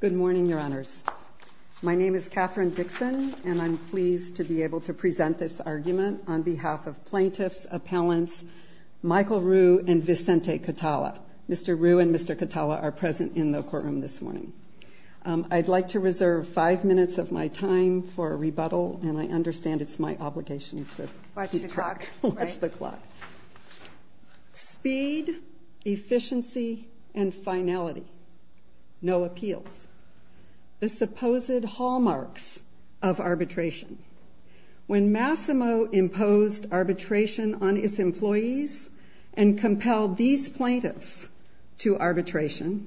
Good morning, Your Honors. My name is Catherine Dixon, and I'm pleased to be able to present this argument on behalf of plaintiffs, appellants, Michael Ruhe and Vicente Catala. Mr. Ruhe and Mr. Catala are present in the courtroom this morning. I'd like to reserve five minutes of my time for a rebuttal, and I understand it's my obligation to watch the clock. Speed, efficiency, and finality. No appeals. The supposed hallmarks of arbitration. When Masimo imposed arbitration on its employees and compelled these plaintiffs to arbitration,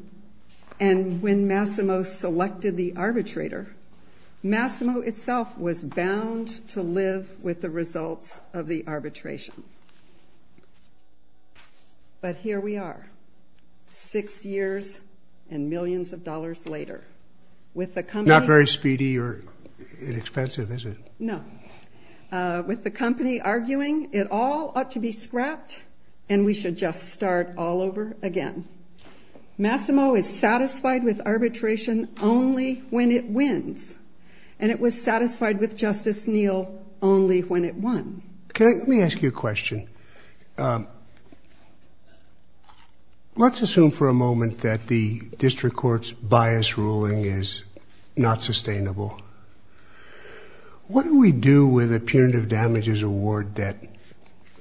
and when Masimo selected the arbitrator, Masimo itself was bound to live with the results of the arbitration. But here we are, six years and millions of dollars later. Not very speedy or inexpensive, is it? No. With the company arguing it all ought to be scrapped and we should just start all over again. Masimo is satisfied with arbitration only when it wins, and it was satisfied with Justice Neal only when it won. Let me ask you a question. Let's assume for a moment that the district court's bias ruling is not sustainable. What do we do with a punitive damages award that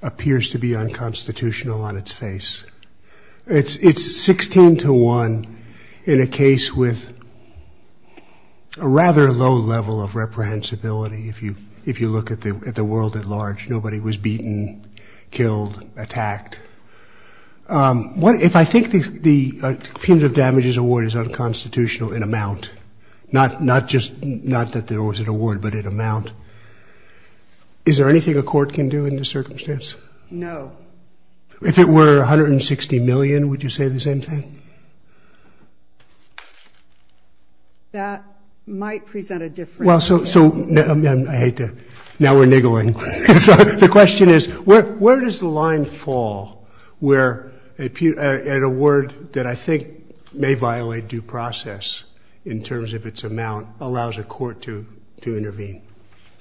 appears to be unconstitutional on its face? It's 16 to 1 in a case with a rather low level of reprehensibility if you look at the world at large. Nobody was beaten, killed, attacked. If I think the punitive damages award is unconstitutional in amount, not that there was an award, but in amount, is there anything a court can do in this circumstance? No. If it were $160 million, would you say the same thing? That might present a difference. I hate to—now we're niggling. The question is, where does the line fall where an award that I think may violate due process in terms of its amount allows a court to intervene?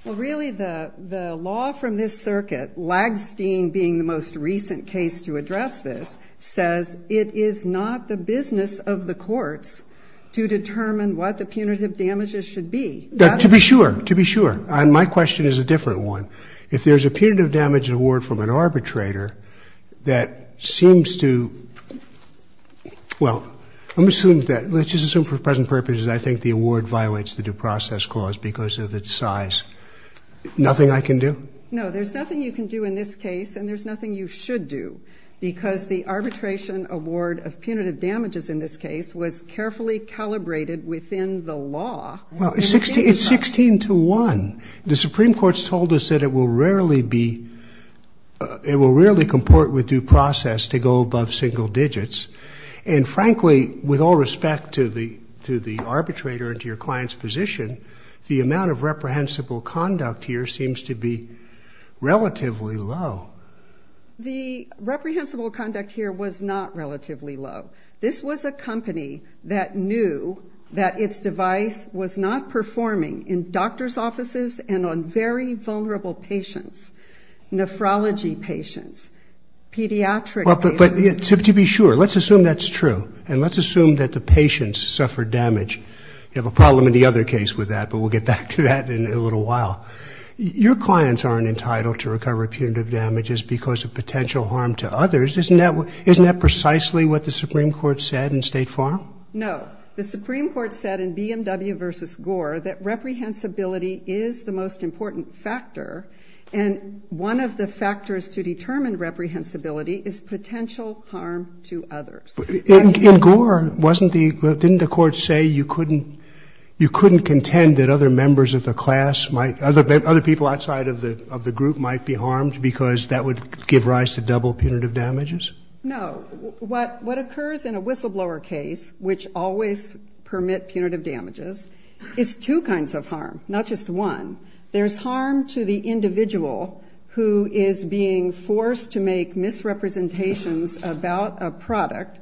Well, really, the law from this circuit, Lagsteen being the most recent case to address this, says it is not the business of the courts to determine what the punitive damages should be. To be sure. To be sure. My question is a different one. If there's a punitive damages award from an arbitrator that seems to—well, let's just assume for present purposes I think the award violates the due process clause because of its size. Nothing I can do? No, there's nothing you can do in this case, and there's nothing you should do, because the arbitration award of punitive damages in this case was carefully calibrated within the law. Well, it's 16 to 1. The Supreme Court's told us that it will rarely be—it will rarely comport with due process to go above single digits. And, frankly, with all respect to the arbitrator and to your client's position, the amount of reprehensible conduct here seems to be relatively low. The reprehensible conduct here was not relatively low. This was a company that knew that its device was not performing in doctor's offices and on very vulnerable patients, nephrology patients, pediatric— But to be sure, let's assume that's true, and let's assume that the patients suffered damage. You have a problem in the other case with that, but we'll get back to that in a little while. Your clients aren't entitled to recover punitive damages because of potential harm to others. Isn't that precisely what the Supreme Court said in State Farm? No. The Supreme Court said in BMW v. Gore that reprehensibility is the most important factor, and one of the factors to determine reprehensibility is potential harm to others. In Gore, wasn't the—didn't the Court say you couldn't—you couldn't contend that other members of the class might— other people outside of the group might be harmed because that would give rise to double punitive damages? No. What occurs in a whistleblower case, which always permit punitive damages, is two kinds of harm, not just one. There's harm to the individual who is being forced to make misrepresentations about a product,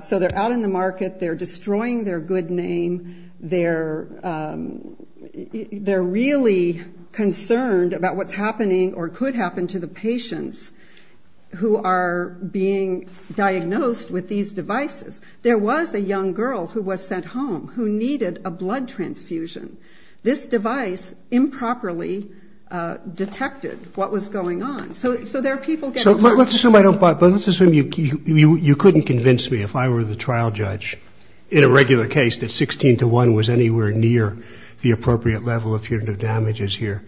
so they're out in the market, they're destroying their good name, they're really concerned about what's happening or could happen to the patients who are being diagnosed with these devices. There was a young girl who was sent home who needed a blood transfusion. This device improperly detected what was going on. So there are people getting— So let's assume I don't—but let's assume you couldn't convince me, if I were the trial judge, in a regular case that 16 to 1 was anywhere near the appropriate level of punitive damages here.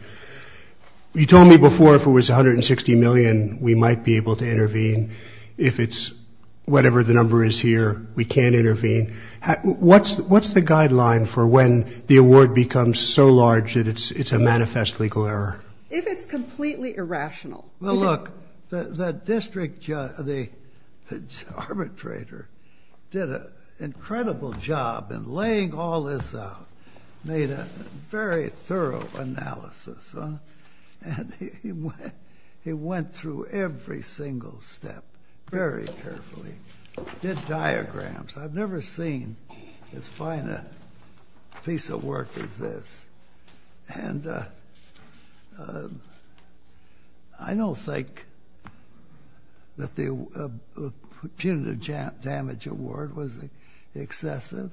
You told me before if it was $160 million, we might be able to intervene. If it's whatever the number is here, we can't intervene. What's the guideline for when the award becomes so large that it's a manifest legal error? If it's completely irrational. Well, look, the district arbitrator did an incredible job in laying all this out, made a very thorough analysis, and he went through every single step very carefully, did diagrams. I've never seen as fine a piece of work as this. And I don't think that the punitive damage award was excessive.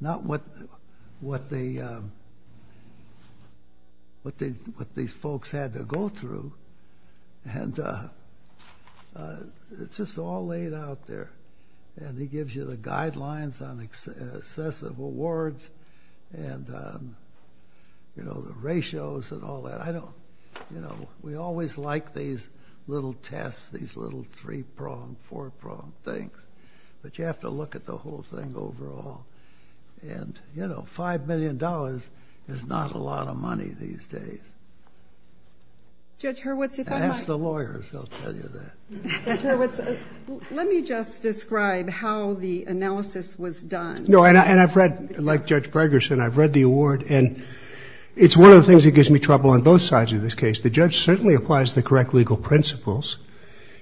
Not what these folks had to go through. And it's just all laid out there. And he gives you the guidelines on excessive awards and, you know, the ratios and all that. I don't—you know, we always like these little tests, these little three-prong, four-prong things. But you have to look at the whole thing overall. And, you know, $5 million is not a lot of money these days. Judge Hurwitz, if I might. Ask the lawyers. They'll tell you that. Judge Hurwitz, let me just describe how the analysis was done. No, and I've read, like Judge Braggerson, I've read the award, and it's one of the things that gives me trouble on both sides of this case. The judge certainly applies the correct legal principles.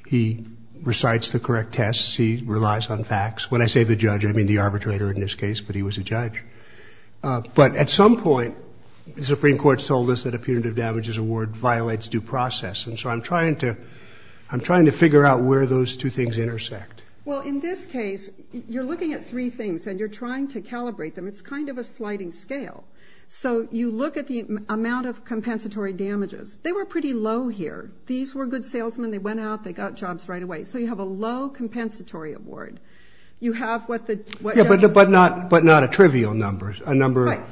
He recites the correct tests. He relies on facts. When I say the judge, I mean the arbitrator in this case, but he was a judge. But at some point, the Supreme Court has told us that a punitive damages award violates due process. And so I'm trying to figure out where those two things intersect. Well, in this case, you're looking at three things, and you're trying to calibrate them. It's kind of a sliding scale. So you look at the amount of compensatory damages. They were pretty low here. These were good salesmen. They went out. They got jobs right away. So you have a low compensatory award. Yeah, but not a trivial number, a number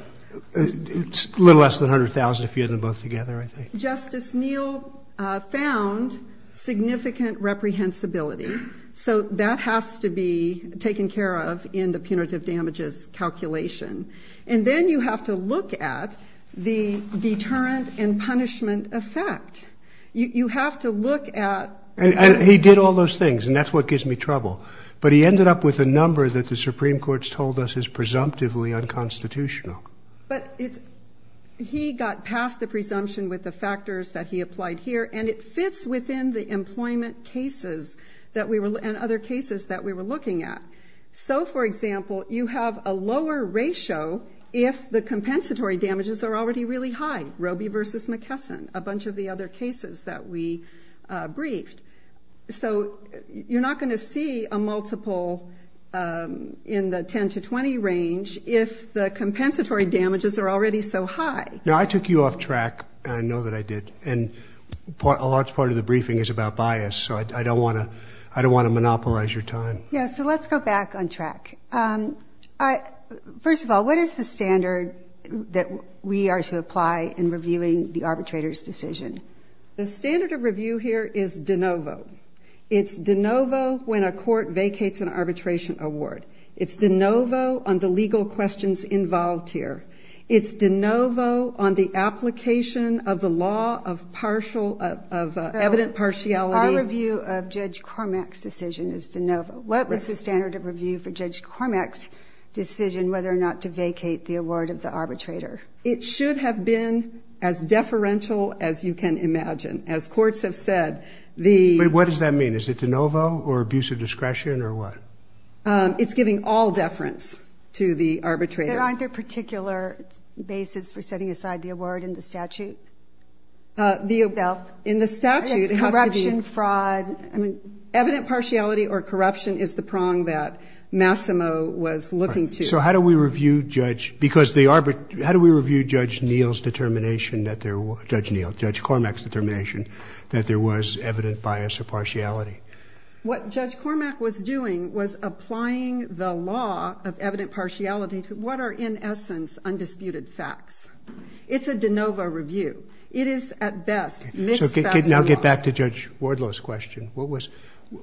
a little less than 100,000 if you add them both together, I think. Justice Neal found significant reprehensibility. So that has to be taken care of in the punitive damages calculation. And then you have to look at the deterrent and punishment effect. You have to look at... Well, he did all those things, and that's what gives me trouble. But he ended up with a number that the Supreme Court's told us is presumptively unconstitutional. But he got past the presumption with the factors that he applied here, and it fits within the employment cases and other cases that we were looking at. So, for example, you have a lower ratio if the compensatory damages are already really high, Roe v. McKesson, a bunch of the other cases that we briefed. So you're not going to see a multiple in the 10 to 20 range if the compensatory damages are already so high. Now, I took you off track, and I know that I did. And a large part of the briefing is about bias, so I don't want to monopolize your time. First of all, what is the standard that we are to apply in reviewing the arbitrator's decision? The standard of review here is de novo. It's de novo when a court vacates an arbitration award. It's de novo on the legal questions involved here. It's de novo on the application of the law of evident partiality. Our review of Judge Cormack's decision is de novo. What is the standard of review for Judge Cormack's decision whether or not to vacate the award of the arbitrator? It should have been as deferential as you can imagine. As courts have said, the- Wait, what does that mean? Is it de novo or abuse of discretion or what? It's giving all deference to the arbitrator. There aren't a particular basis for setting aside the award in the statute? In the statute, it has to be- Corruption, fraud. Evident partiality or corruption is the prong that Massimo was looking to. So how do we review Judge- Because the arbit- How do we review Judge Neal's determination that there- Judge Neal, Judge Cormack's determination that there was evident bias or partiality? What Judge Cormack was doing was applying the law of evident partiality to what are, in essence, undisputed facts. It's a de novo review. It is at best- So now get back to Judge Wardlow's question. What was-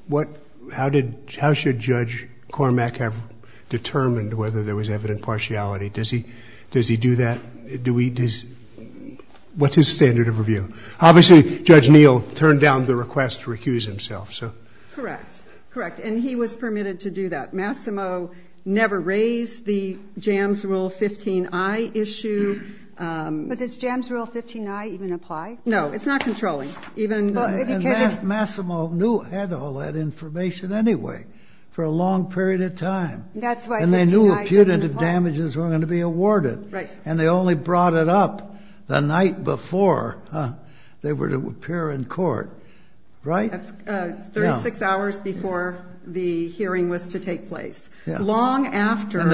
What- How did- How should Judge Cormack have determined whether there was evident partiality? Does he do that? Do we- What's his standard of review? Obviously, Judge Neal turned down the request to recuse himself, so- Correct. Correct. And he was permitted to do that. Massimo never raised the Jams Rule 15i issue. But does Jams Rule 15i even apply? No, it's not controlling. Even- Well, because it- And Massimo knew- had all that information anyway for a long period of time. That's why 15i doesn't apply. And they knew punitive damages were going to be awarded. Right. And they only brought it up the night before they were to appear in court. Right? That's 36 hours before the hearing was to take place. Yeah. Long after- And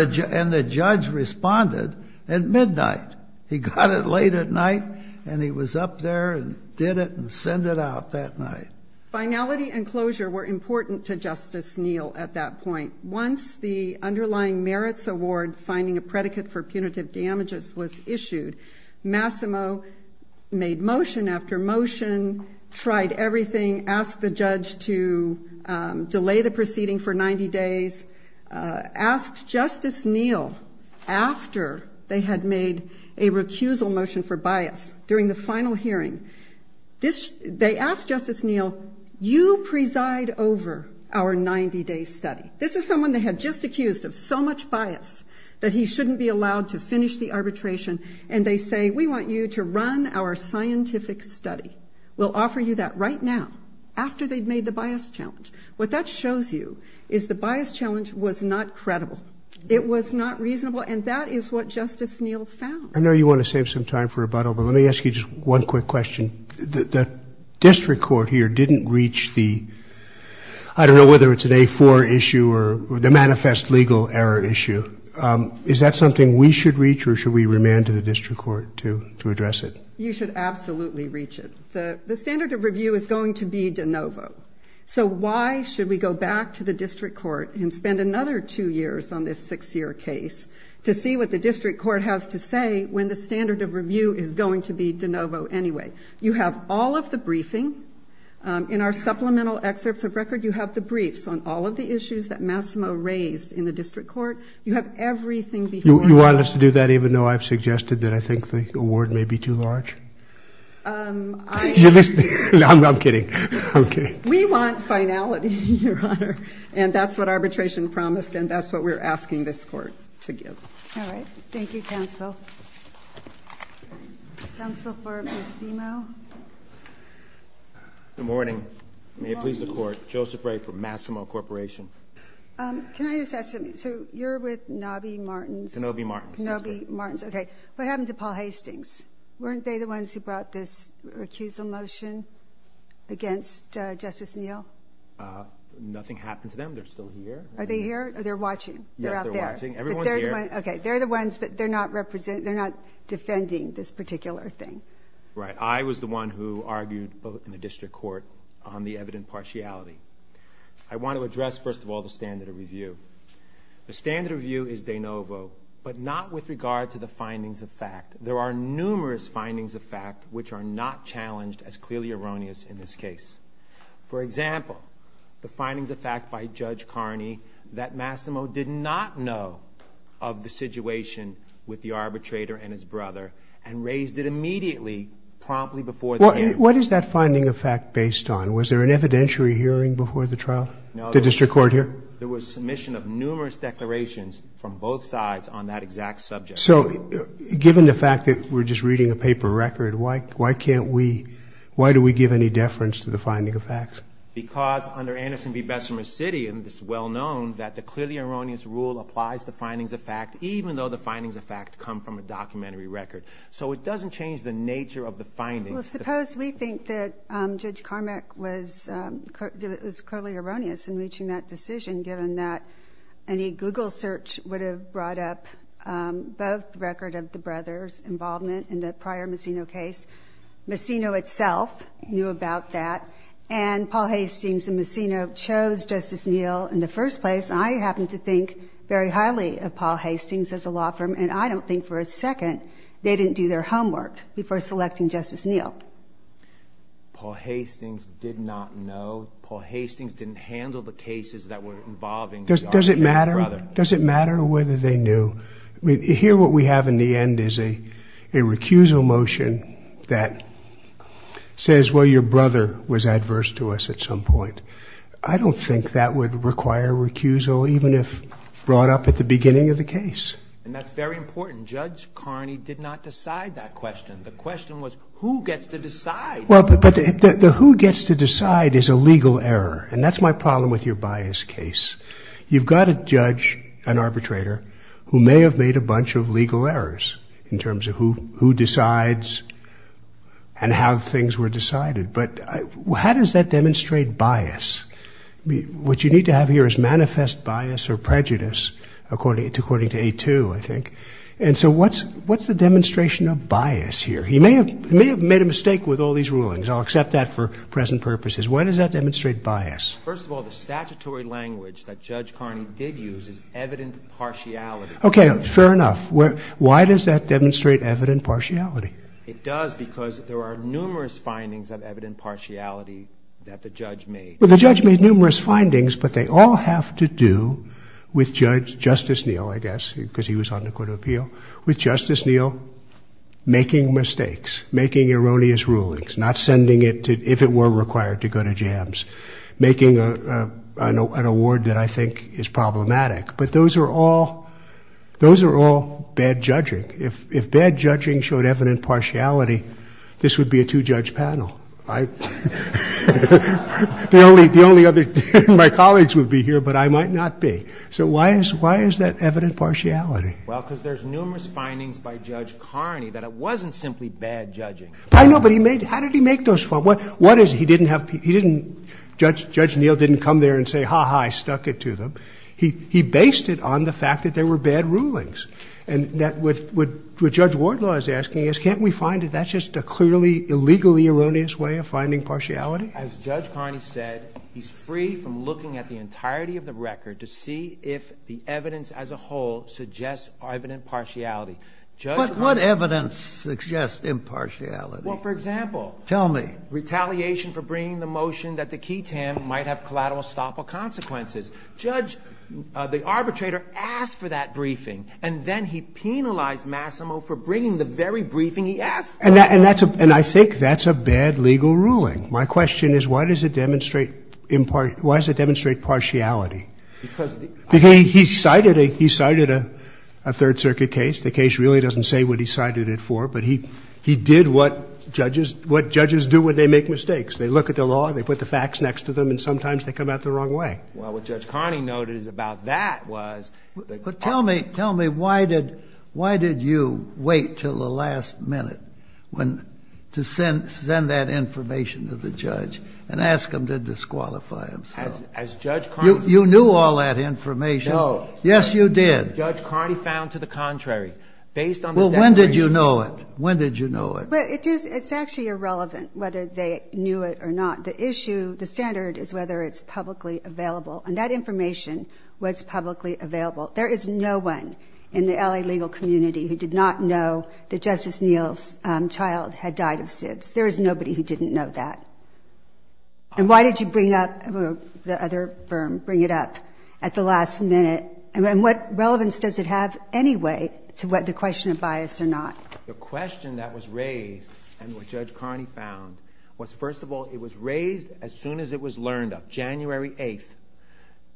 the judge responded at midnight. He got it late at night, and he was up there and did it and sent it out that night. Finality and closure were important to Justice Neal at that point. Once the underlying merits award finding a predicate for punitive damages was issued, Massimo made motion after motion, tried everything, asked the judge to delay the proceeding for 90 days, asked Justice Neal, after they had made a recusal motion for bias during the final hearing, they asked Justice Neal, you preside over our 90-day study. This is someone they had just accused of so much bias that he shouldn't be allowed to finish the arbitration, and they say, we want you to run our scientific study. We'll offer you that right now, after they've made the bias challenge. What that shows you is the bias challenge was not credible. It was not reasonable, and that is what Justice Neal found. I know you want to save some time for rebuttal, but let me ask you just one quick question. The district court here didn't reach the, I don't know whether it's an A4 issue or the manifest legal error issue. Is that something we should reach, or should we remand to the district court to address it? You should absolutely reach it. The standard of review is going to be de novo. So why should we go back to the district court and spend another two years on this six-year case to see what the district court has to say when the standard of review is going to be de novo anyway? You have all of the briefing. In our supplemental excerpts of record, you have the briefs on all of the issues that Massimo raised in the district court. You have everything before you. You want us to do that, even though I've suggested that I think the award may be too large? I'm kidding. We want finality, Your Honor, and that's what arbitration promised, and that's what we're asking this court to give. All right. Thank you, counsel. Counsel for Massimo. Good morning. May it please the Court. Joseph Ray from Massimo Corporation. Can I just ask something? So you're with Knobby Martins. Knobby Martins. Knobby Martins. Okay. What happened to Paul Hastings? Weren't they the ones who brought this recusal motion against Justice Neal? Nothing happened to them. They're still here. Are they here? They're watching. They're out there. Yes, they're watching. Everyone's here. Okay. They're the ones, but they're not defending this particular thing. Right. I was the one who argued in the district court on the evident partiality. I want to address, first of all, the standard of review. The standard of review is de novo, but not with regard to the findings of fact. There are numerous findings of fact which are not challenged as clearly erroneous in this case. For example, the findings of fact by Judge Carney that Massimo did not know of the situation with the arbitrator and his brother and raised it immediately, promptly before the hearing. What is that finding of fact based on? Was there an evidentiary hearing before the trial? No. Did the district court hear? There was submission of numerous declarations from both sides on that exact subject. So given the fact that we're just reading a paper record, why do we give any deference to the finding of fact? Because under Anderson v. Bessemer City, it's well known that the clearly erroneous rule applies to findings of fact, even though the findings of fact come from a documentary record. So it doesn't change the nature of the findings. Well, suppose we think that Judge Carmack was clearly erroneous in reaching that decision, given that any Google search would have brought up both record of the brother's involvement in the prior Massimo case. Massimo itself knew about that. And Paul Hastings and Massimo chose Justice Neal in the first place. And I happen to think very highly of Paul Hastings as a law firm, and I don't think for a second they didn't do their homework before selecting Justice Neal. Paul Hastings did not know. Paul Hastings didn't handle the cases that were involving the arson of his brother. Does it matter whether they knew? Here what we have in the end is a recusal motion that says, well, your brother was adverse to us at some point. I don't think that would require recusal, even if brought up at the beginning of the case. And that's very important. Judge Carney did not decide that question. The question was who gets to decide. Well, but the who gets to decide is a legal error, and that's my problem with your bias case. You've got a judge, an arbitrator, who may have made a bunch of legal errors in terms of who decides and how things were decided. But how does that demonstrate bias? What you need to have here is manifest bias or prejudice, according to A2, I think. And so what's the demonstration of bias here? He may have made a mistake with all these rulings. I'll accept that for present purposes. When does that demonstrate bias? First of all, the statutory language that Judge Carney did use is evident partiality. Okay, fair enough. Why does that demonstrate evident partiality? It does because there are numerous findings of evident partiality that the judge made. Well, the judge made numerous findings, but they all have to do with Justice Neal, I guess, because he was on the Court of Appeal, with Justice Neal making mistakes, making erroneous rulings, not sending it if it were required to go to jams, making an award that I think is problematic. But those are all bad judging. If bad judging showed evident partiality, this would be a two-judge panel. I, the only other, my colleagues would be here, but I might not be. So why is that evident partiality? Well, because there's numerous findings by Judge Carney that it wasn't simply bad judging. I know, but he made, how did he make those, what is, he didn't have, he didn't, Judge Neal didn't come there and say, ha-ha, I stuck it to them. He based it on the fact that there were bad rulings. And what Judge Wardlaw is asking is can't we find it, isn't that just a clearly, illegally erroneous way of finding partiality? As Judge Carney said, he's free from looking at the entirety of the record to see if the evidence as a whole suggests evident partiality. But what evidence suggests impartiality? Well, for example. Tell me. Retaliation for bringing the motion that the key TAM might have collateral estoppel consequences. Judge, the arbitrator asked for that briefing, and then he penalized Massimo for bringing the very briefing he asked for. And that's a, and I think that's a bad legal ruling. My question is why does it demonstrate impart, why does it demonstrate partiality? Because. Because he cited a, he cited a Third Circuit case. The case really doesn't say what he cited it for, but he, he did what judges, what judges do when they make mistakes. They look at the law, they put the facts next to them, and sometimes they come out the wrong way. Well, what Judge Carney noted about that was. But tell me, tell me why did, why did you wait until the last minute when, to send, send that information to the judge and ask him to disqualify himself? As Judge Carney. You knew all that information. No. Yes, you did. Judge Carney found to the contrary. Based on the declaration. Well, when did you know it? When did you know it? Well, it is, it's actually irrelevant whether they knew it or not. The issue, the standard is whether it's publicly available. And that information was publicly available. There is no one in the LA legal community who did not know that Justice Neal's child had died of SIDS. There is nobody who didn't know that. And why did you bring up the other firm, bring it up at the last minute? And what relevance does it have anyway to what the question of bias or not? The question that was raised and what Judge Carney found was, first of all, it was raised as soon as it was learned of. On January 8th,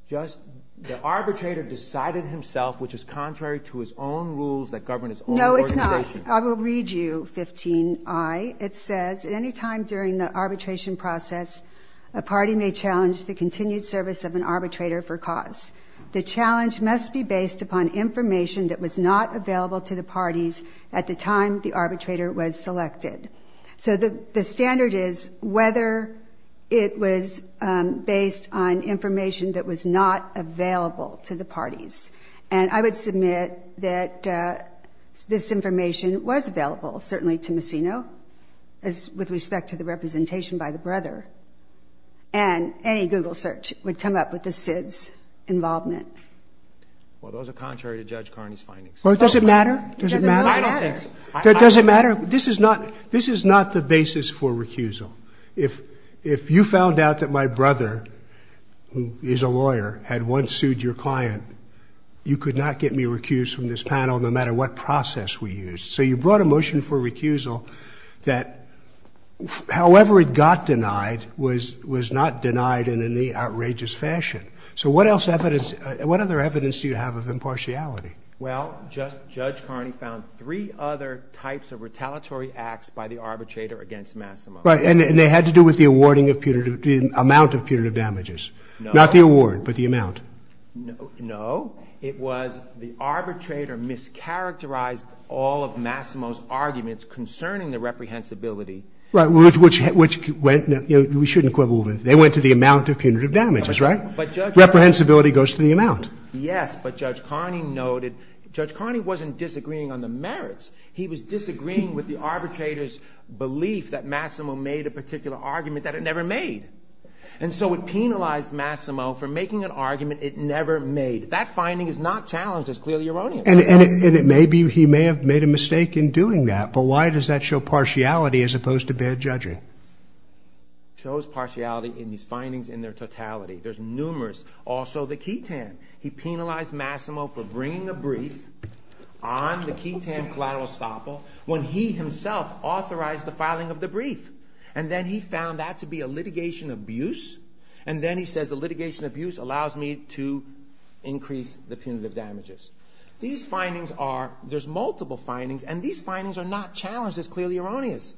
just the arbitrator decided himself, which is contrary to his own rules that govern his own organization. No, it's not. I will read you 15i. It says, at any time during the arbitration process, a party may challenge the continued service of an arbitrator for cause. The challenge must be based upon information that was not available to the parties at the time the arbitrator was selected. So the standard is whether it was based on information that was not available to the parties. And I would submit that this information was available, certainly to Massino, with respect to the representation by the brother. And any Google search would come up with the SIDS involvement. Well, those are contrary to Judge Carney's findings. Well, does it matter? It doesn't matter. This is not the basis for recusal. If you found out that my brother, who is a lawyer, had once sued your client, you could not get me recused from this panel, no matter what process we used. So you brought a motion for recusal that, however it got denied, was not denied in any outrageous fashion. So what other evidence do you have of impartiality? Well, Judge Carney found three other types of retaliatory acts by the arbitrator against Massimo. Right. And they had to do with the amount of punitive damages. No. Not the award, but the amount. No. It was the arbitrator mischaracterized all of Massimo's arguments concerning the reprehensibility. Right. Which we shouldn't quibble with. They went to the amount of punitive damages, right? Reprehensibility goes to the amount. Yes, but Judge Carney noted, Judge Carney wasn't disagreeing on the merits. He was disagreeing with the arbitrator's belief that Massimo made a particular argument that it never made. And so it penalized Massimo for making an argument it never made. That finding is not challenged as clearly erroneous. And it may be he may have made a mistake in doing that, but why does that show partiality as opposed to fair judging? It shows partiality in these findings in their totality. There's numerous. Also the ketan. He penalized Massimo for bringing a brief on the ketan collateral estoppel when he himself authorized the filing of the brief. And then he found that to be a litigation abuse. And then he says the litigation abuse allows me to increase the punitive damages. These findings are, there's multiple findings, and these findings are not challenged as clearly erroneous.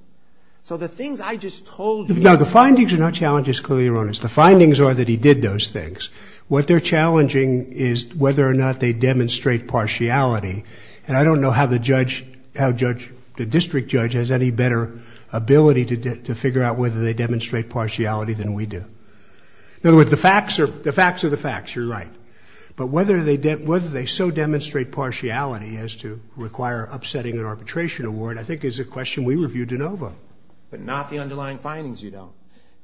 So the things I just told you. No, the findings are not challenged as clearly erroneous. The findings are that he did those things. What they're challenging is whether or not they demonstrate partiality. And I don't know how the district judge has any better ability to figure out whether they demonstrate partiality than we do. In other words, the facts are the facts. You're right. But whether they so demonstrate partiality as to require upsetting an arbitration award I think is a question we review de novo. But not the underlying findings you don't.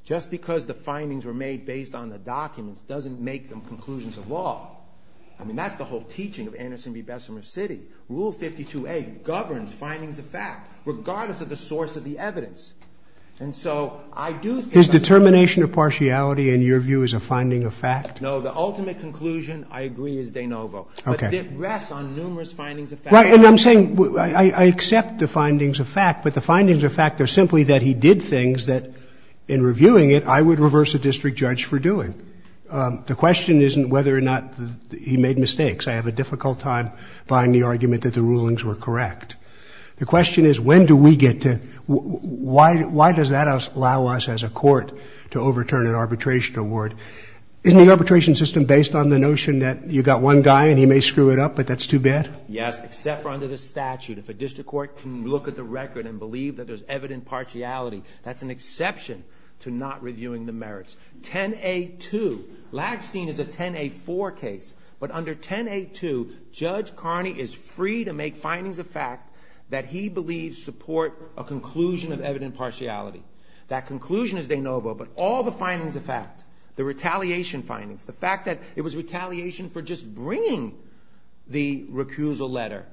Just because the findings were made based on the documents doesn't make them conclusions of law. I mean, that's the whole teaching of Anderson v. Bessemer City. Rule 52A governs findings of fact, regardless of the source of the evidence. And so I do think I'm going to say that. His determination of partiality in your view is a finding of fact? No. The ultimate conclusion, I agree, is de novo. Okay. But it rests on numerous findings of fact. Right. And I'm saying I accept the findings of fact, but the findings of fact are simply that he did things that in reviewing it I would reverse a district judge for doing. The question isn't whether or not he made mistakes. I have a difficult time buying the argument that the rulings were correct. The question is when do we get to why does that allow us as a court to overturn an arbitration award? Isn't the arbitration system based on the notion that you've got one guy and he may screw it up, but that's too bad? Yes, except for under the statute. If a district court can look at the record and believe that there's evident partiality, that's an exception to not reviewing the merits. 10A2, Lackstein is a 10A4 case, but under 10A2 Judge Carney is free to make findings of fact that he believes support a conclusion of evident partiality. That conclusion is de novo, but all the findings of fact, the retaliation findings, the fact that it was retaliation for just bringing the recusal letter,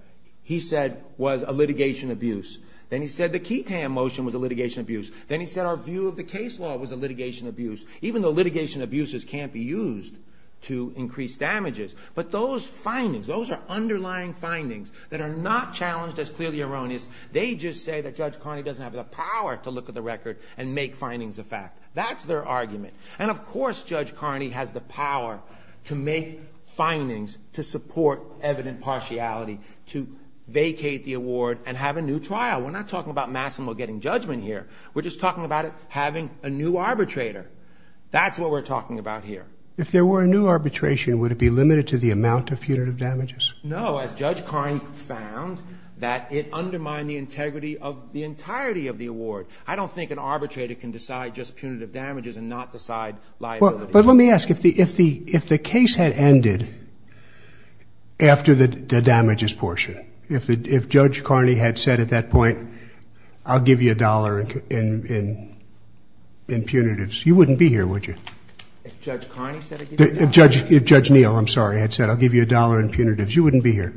he said was a litigation abuse. Then he said the Keaton motion was a litigation abuse. Then he said our view of the case law was a litigation abuse, even though litigation abuses can't be used to increase damages. But those findings, those are underlying findings that are not challenged as clearly erroneous. They just say that Judge Carney doesn't have the power to look at the record and make findings of fact. That's their argument. And, of course, Judge Carney has the power to make findings to support evident partiality, to vacate the award and have a new trial. We're not talking about Massimo getting judgment here. We're just talking about it having a new arbitrator. That's what we're talking about here. If there were a new arbitration, would it be limited to the amount of punitive damages? No. As Judge Carney found, that it undermined the integrity of the entirety of the award. I don't think an arbitrator can decide just punitive damages and not decide liability. But let me ask, if the case had ended after the damages portion, if Judge Carney had said at that point, I'll give you a dollar in punitives, you wouldn't be here, would you? If Judge Carney said it? If Judge Neal, I'm sorry, had said, I'll give you a dollar in punitives, you wouldn't be here.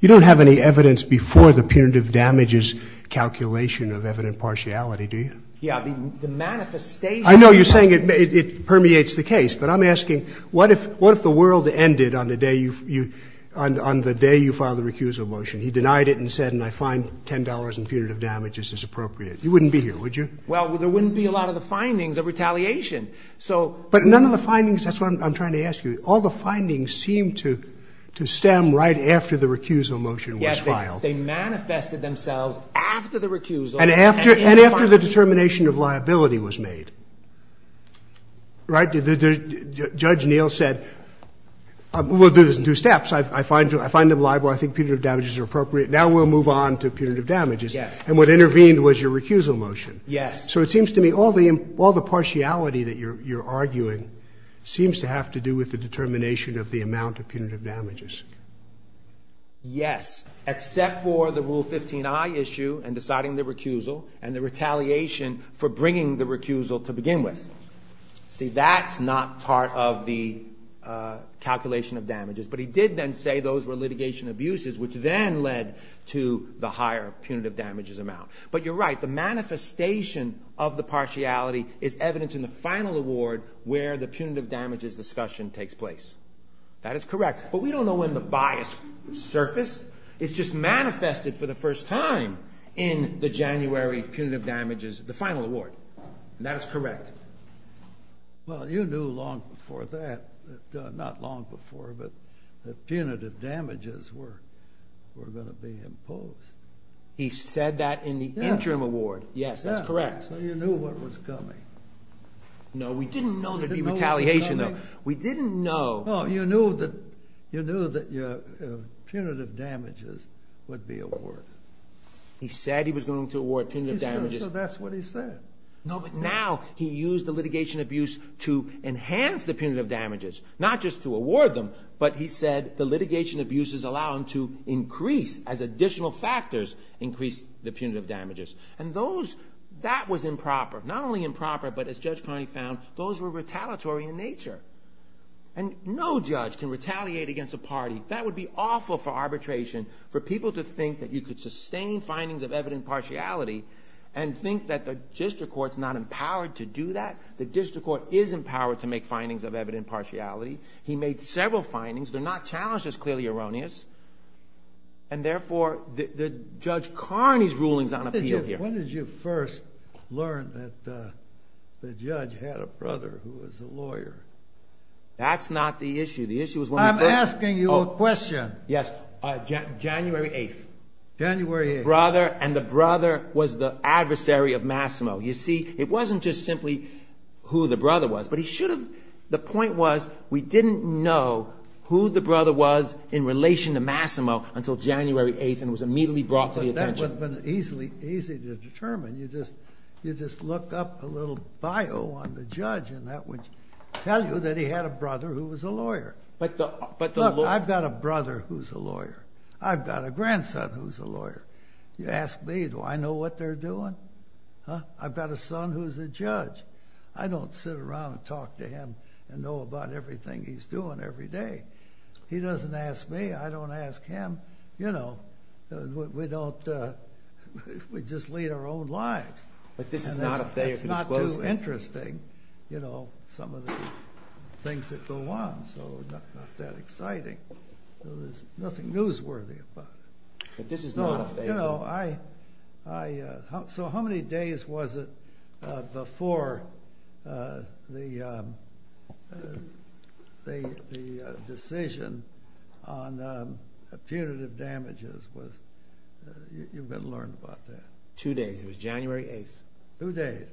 You don't have any evidence before the punitive damages calculation of evident partiality, do you? Yeah. I mean, the manifestation. I know you're saying it permeates the case. But I'm asking, what if the world ended on the day you filed the recusal motion? He denied it and said, and I find $10 in punitive damages is appropriate. You wouldn't be here, would you? Well, there wouldn't be a lot of the findings of retaliation. But none of the findings, that's what I'm trying to ask you. All the findings seem to stem right after the recusal motion was filed. Yes. They manifested themselves after the recusal. And after the determination of liability was made, right? Judge Neal said, well, there's two steps. I find them liable. I think punitive damages are appropriate. Now we'll move on to punitive damages. Yes. And what intervened was your recusal motion. Yes. So it seems to me all the partiality that you're arguing seems to have to do with the determination of the amount of punitive damages. Yes. Except for the Rule 15i issue and deciding the recusal and the retaliation for bringing the recusal to begin with. See, that's not part of the calculation of damages. But he did then say those were litigation abuses, which then led to the higher punitive damages amount. But you're right. The manifestation of the partiality is evident in the final award where the punitive damages discussion takes place. That is correct. But we don't know when the bias surfaced. It's just manifested for the first time in the January punitive damages, the final award. And that is correct. Well, you knew long before that, not long before, but that punitive damages were going to be imposed. He said that in the interim award. Yes. That's correct. So you knew what was coming. No, we didn't know there'd be retaliation, though. We didn't know. Oh, you knew that punitive damages would be awarded. He said he was going to award punitive damages. He said. So that's what he said. No, but now he used the litigation abuse to enhance the punitive damages, not just to award them, but he said the litigation abuses allow them to increase as additional factors increase the punitive damages. And that was improper, not only improper, but as Judge Carney found, those were retaliatory in nature. And no judge can retaliate against a party. That would be awful for arbitration, for people to think that you could sustain findings of evident partiality and think that the district court's not empowered to do that. The district court is empowered to make findings of evident partiality. He made several findings. They're not challenged as clearly erroneous. And, therefore, Judge Carney's ruling is on appeal here. When did you first learn that the judge had a brother who was a lawyer? That's not the issue. The issue was when we first. I'm asking you a question. Yes. January 8th. January 8th. The brother and the brother was the adversary of Massimo. You see, it wasn't just simply who the brother was, but he should have. The point was we didn't know who the brother was in relation to Massimo until January 8th and it was immediately brought to the attention. It would have been easy to determine. You just look up a little bio on the judge and that would tell you that he had a brother who was a lawyer. But the lawyer. Look, I've got a brother who's a lawyer. I've got a grandson who's a lawyer. You ask me, do I know what they're doing? I've got a son who's a judge. I don't sit around and talk to him and know about everything he's doing every day. He doesn't ask me. I don't ask him. We just lead our own lives. But this is not a failure to dispose of. It's not too interesting, some of the things that go on. So it's not that exciting. There's nothing newsworthy about it. But this is not a failure. So how many days was it before the decision on punitive damages? You've been learned about that. Two days. It was January 8th. Two days.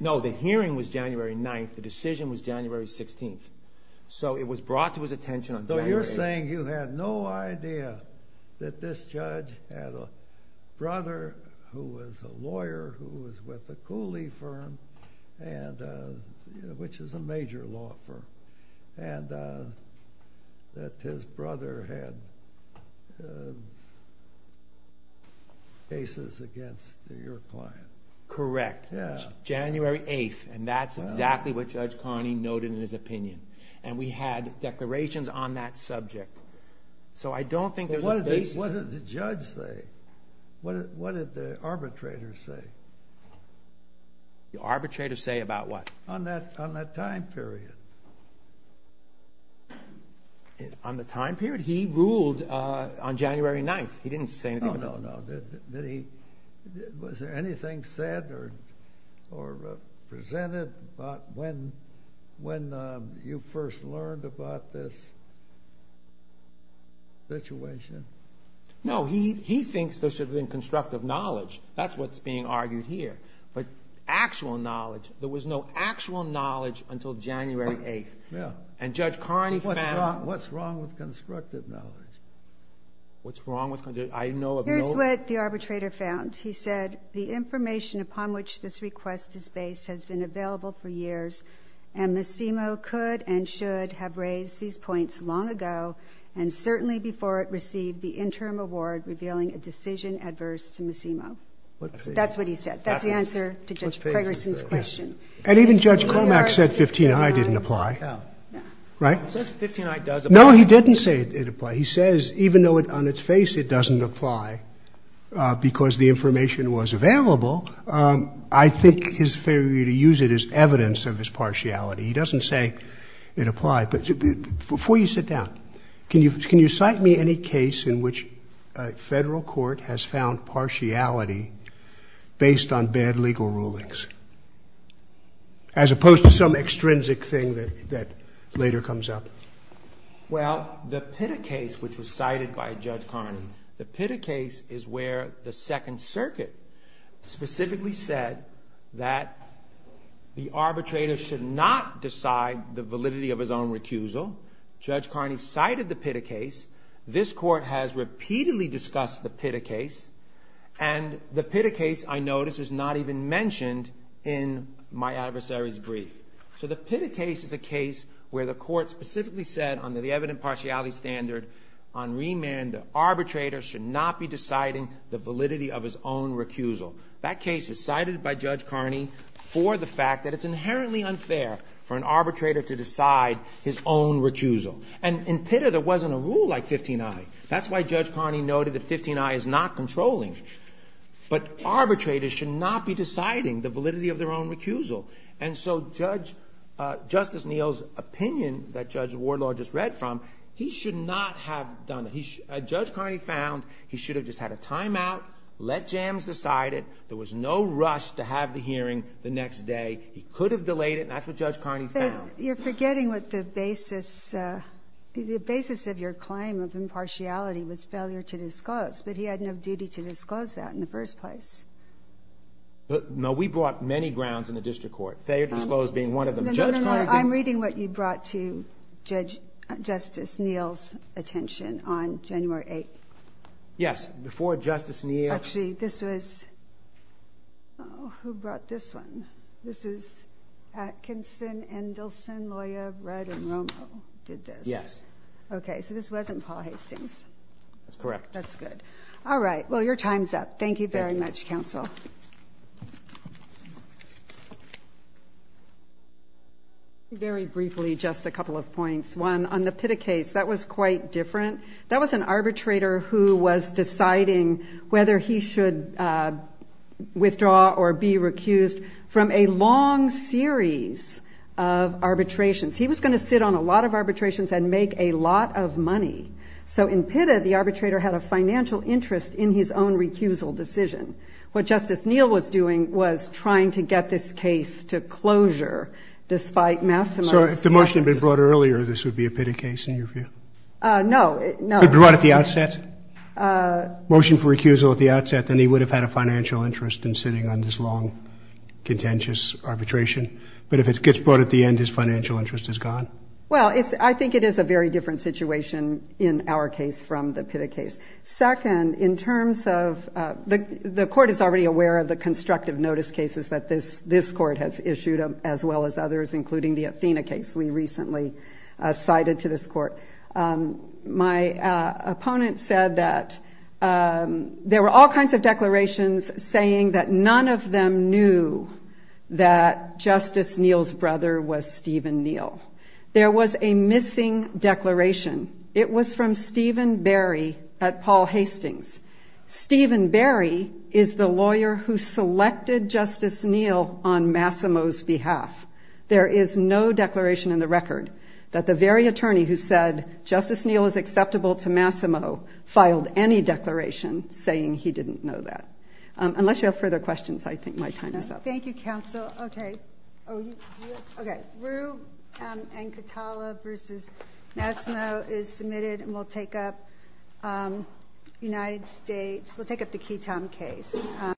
No, the hearing was January 9th. The decision was January 16th. So it was brought to his attention on January 8th. So you're saying you had no idea that this judge had a brother who was a lawyer who was with a Cooley firm, which is a major law firm, and that his brother had cases against your client. Correct. It was January 8th, and that's exactly what Judge Carney noted in his opinion. And we had declarations on that subject. So I don't think there's a basis. What did the judge say? What did the arbitrator say? The arbitrator say about what? On that time period. On the time period? He ruled on January 9th. He didn't say anything about it. No, no, no. Was there anything said or presented about when you first learned about this situation? No, he thinks there should have been constructive knowledge. That's what's being argued here. But actual knowledge, there was no actual knowledge until January 8th. And Judge Carney found out. What's wrong with constructive knowledge? Here's what the arbitrator found. He said, The information upon which this request is based has been available for years, and Massimo could and should have raised these points long ago, and certainly before it received the interim award revealing a decision adverse to Massimo. That's what he said. That's the answer to Judge Ferguson's question. And even Judge Cormack said 15i didn't apply. Right? It says 15i does apply. No, he didn't say it did apply. He says even though on its face it doesn't apply because the information was available, I think his failure to use it is evidence of his partiality. He doesn't say it applied. But before you sit down, can you cite me any case in which a federal court has found partiality based on bad legal rulings, as opposed to some extrinsic thing that later comes up? Well, the Pitta case, which was cited by Judge Carney. The Pitta case is where the Second Circuit specifically said that the arbitrator should not decide the validity of his own recusal. Judge Carney cited the Pitta case. This court has repeatedly discussed the Pitta case, and the Pitta case, I notice, is not even mentioned in my adversary's brief. So the Pitta case is a case where the court specifically said under the evident partiality standard on remand that arbitrators should not be deciding the validity of his own recusal. That case is cited by Judge Carney for the fact that it's inherently unfair for an arbitrator to decide his own recusal. And in Pitta, there wasn't a rule like 15i. That's why Judge Carney noted that 15i is not controlling. But arbitrators should not be deciding the validity of their own recusal. And so Justice Neal's opinion that Judge Wardlaw just read from, he should not have done it. Judge Carney found he should have just had a timeout, let Jams decide it. There was no rush to have the hearing the next day. He could have delayed it, and that's what Judge Carney found. You're forgetting what the basis of your claim of impartiality was failure to disclose, but he had no duty to disclose that in the first place. No, we brought many grounds in the district court. Failure to disclose being one of them. No, no, no, I'm reading what you brought to Justice Neal's attention on January 8th. Yes, before Justice Neal. Actually, this was, oh, who brought this one? This is Atkinson, Endelson, Loya, Red, and Romo did this. Yes. Okay, so this wasn't Paul Hastings. That's correct. That's good. All right, well, your time's up. Thank you very much, counsel. Very briefly, just a couple of points. One, on the Pitta case, that was quite different. That was an arbitrator who was deciding whether he should withdraw or be recused from a long series of arbitrations. He was going to sit on a lot of arbitrations and make a lot of money. So in Pitta, the arbitrator had a financial interest in his own recusal decision. What Justice Neal was doing was trying to get this case to closure despite Massimo's efforts. So if the motion had been brought earlier, this would be a Pitta case in your view? No, no. It would be brought at the outset? Motion for recusal at the outset, then he would have had a financial interest in sitting on this long, contentious arbitration. But if it gets brought at the end, his financial interest is gone? Well, I think it is a very different situation in our case from the Pitta case. Second, in terms of the court is already aware of the constructive notice cases that this court has issued, as well as others, including the Athena case we recently cited to this court. My opponent said that there were all kinds of declarations saying that none of them knew that Justice Neal's brother was Stephen Neal. There was a missing declaration. It was from Stephen Berry at Paul Hastings. Stephen Berry is the lawyer who selected Justice Neal on Massimo's behalf. There is no declaration in the record that the very attorney who said, Justice Neal is acceptable to Massimo, filed any declaration saying he didn't know that. Unless you have further questions, I think my time is up.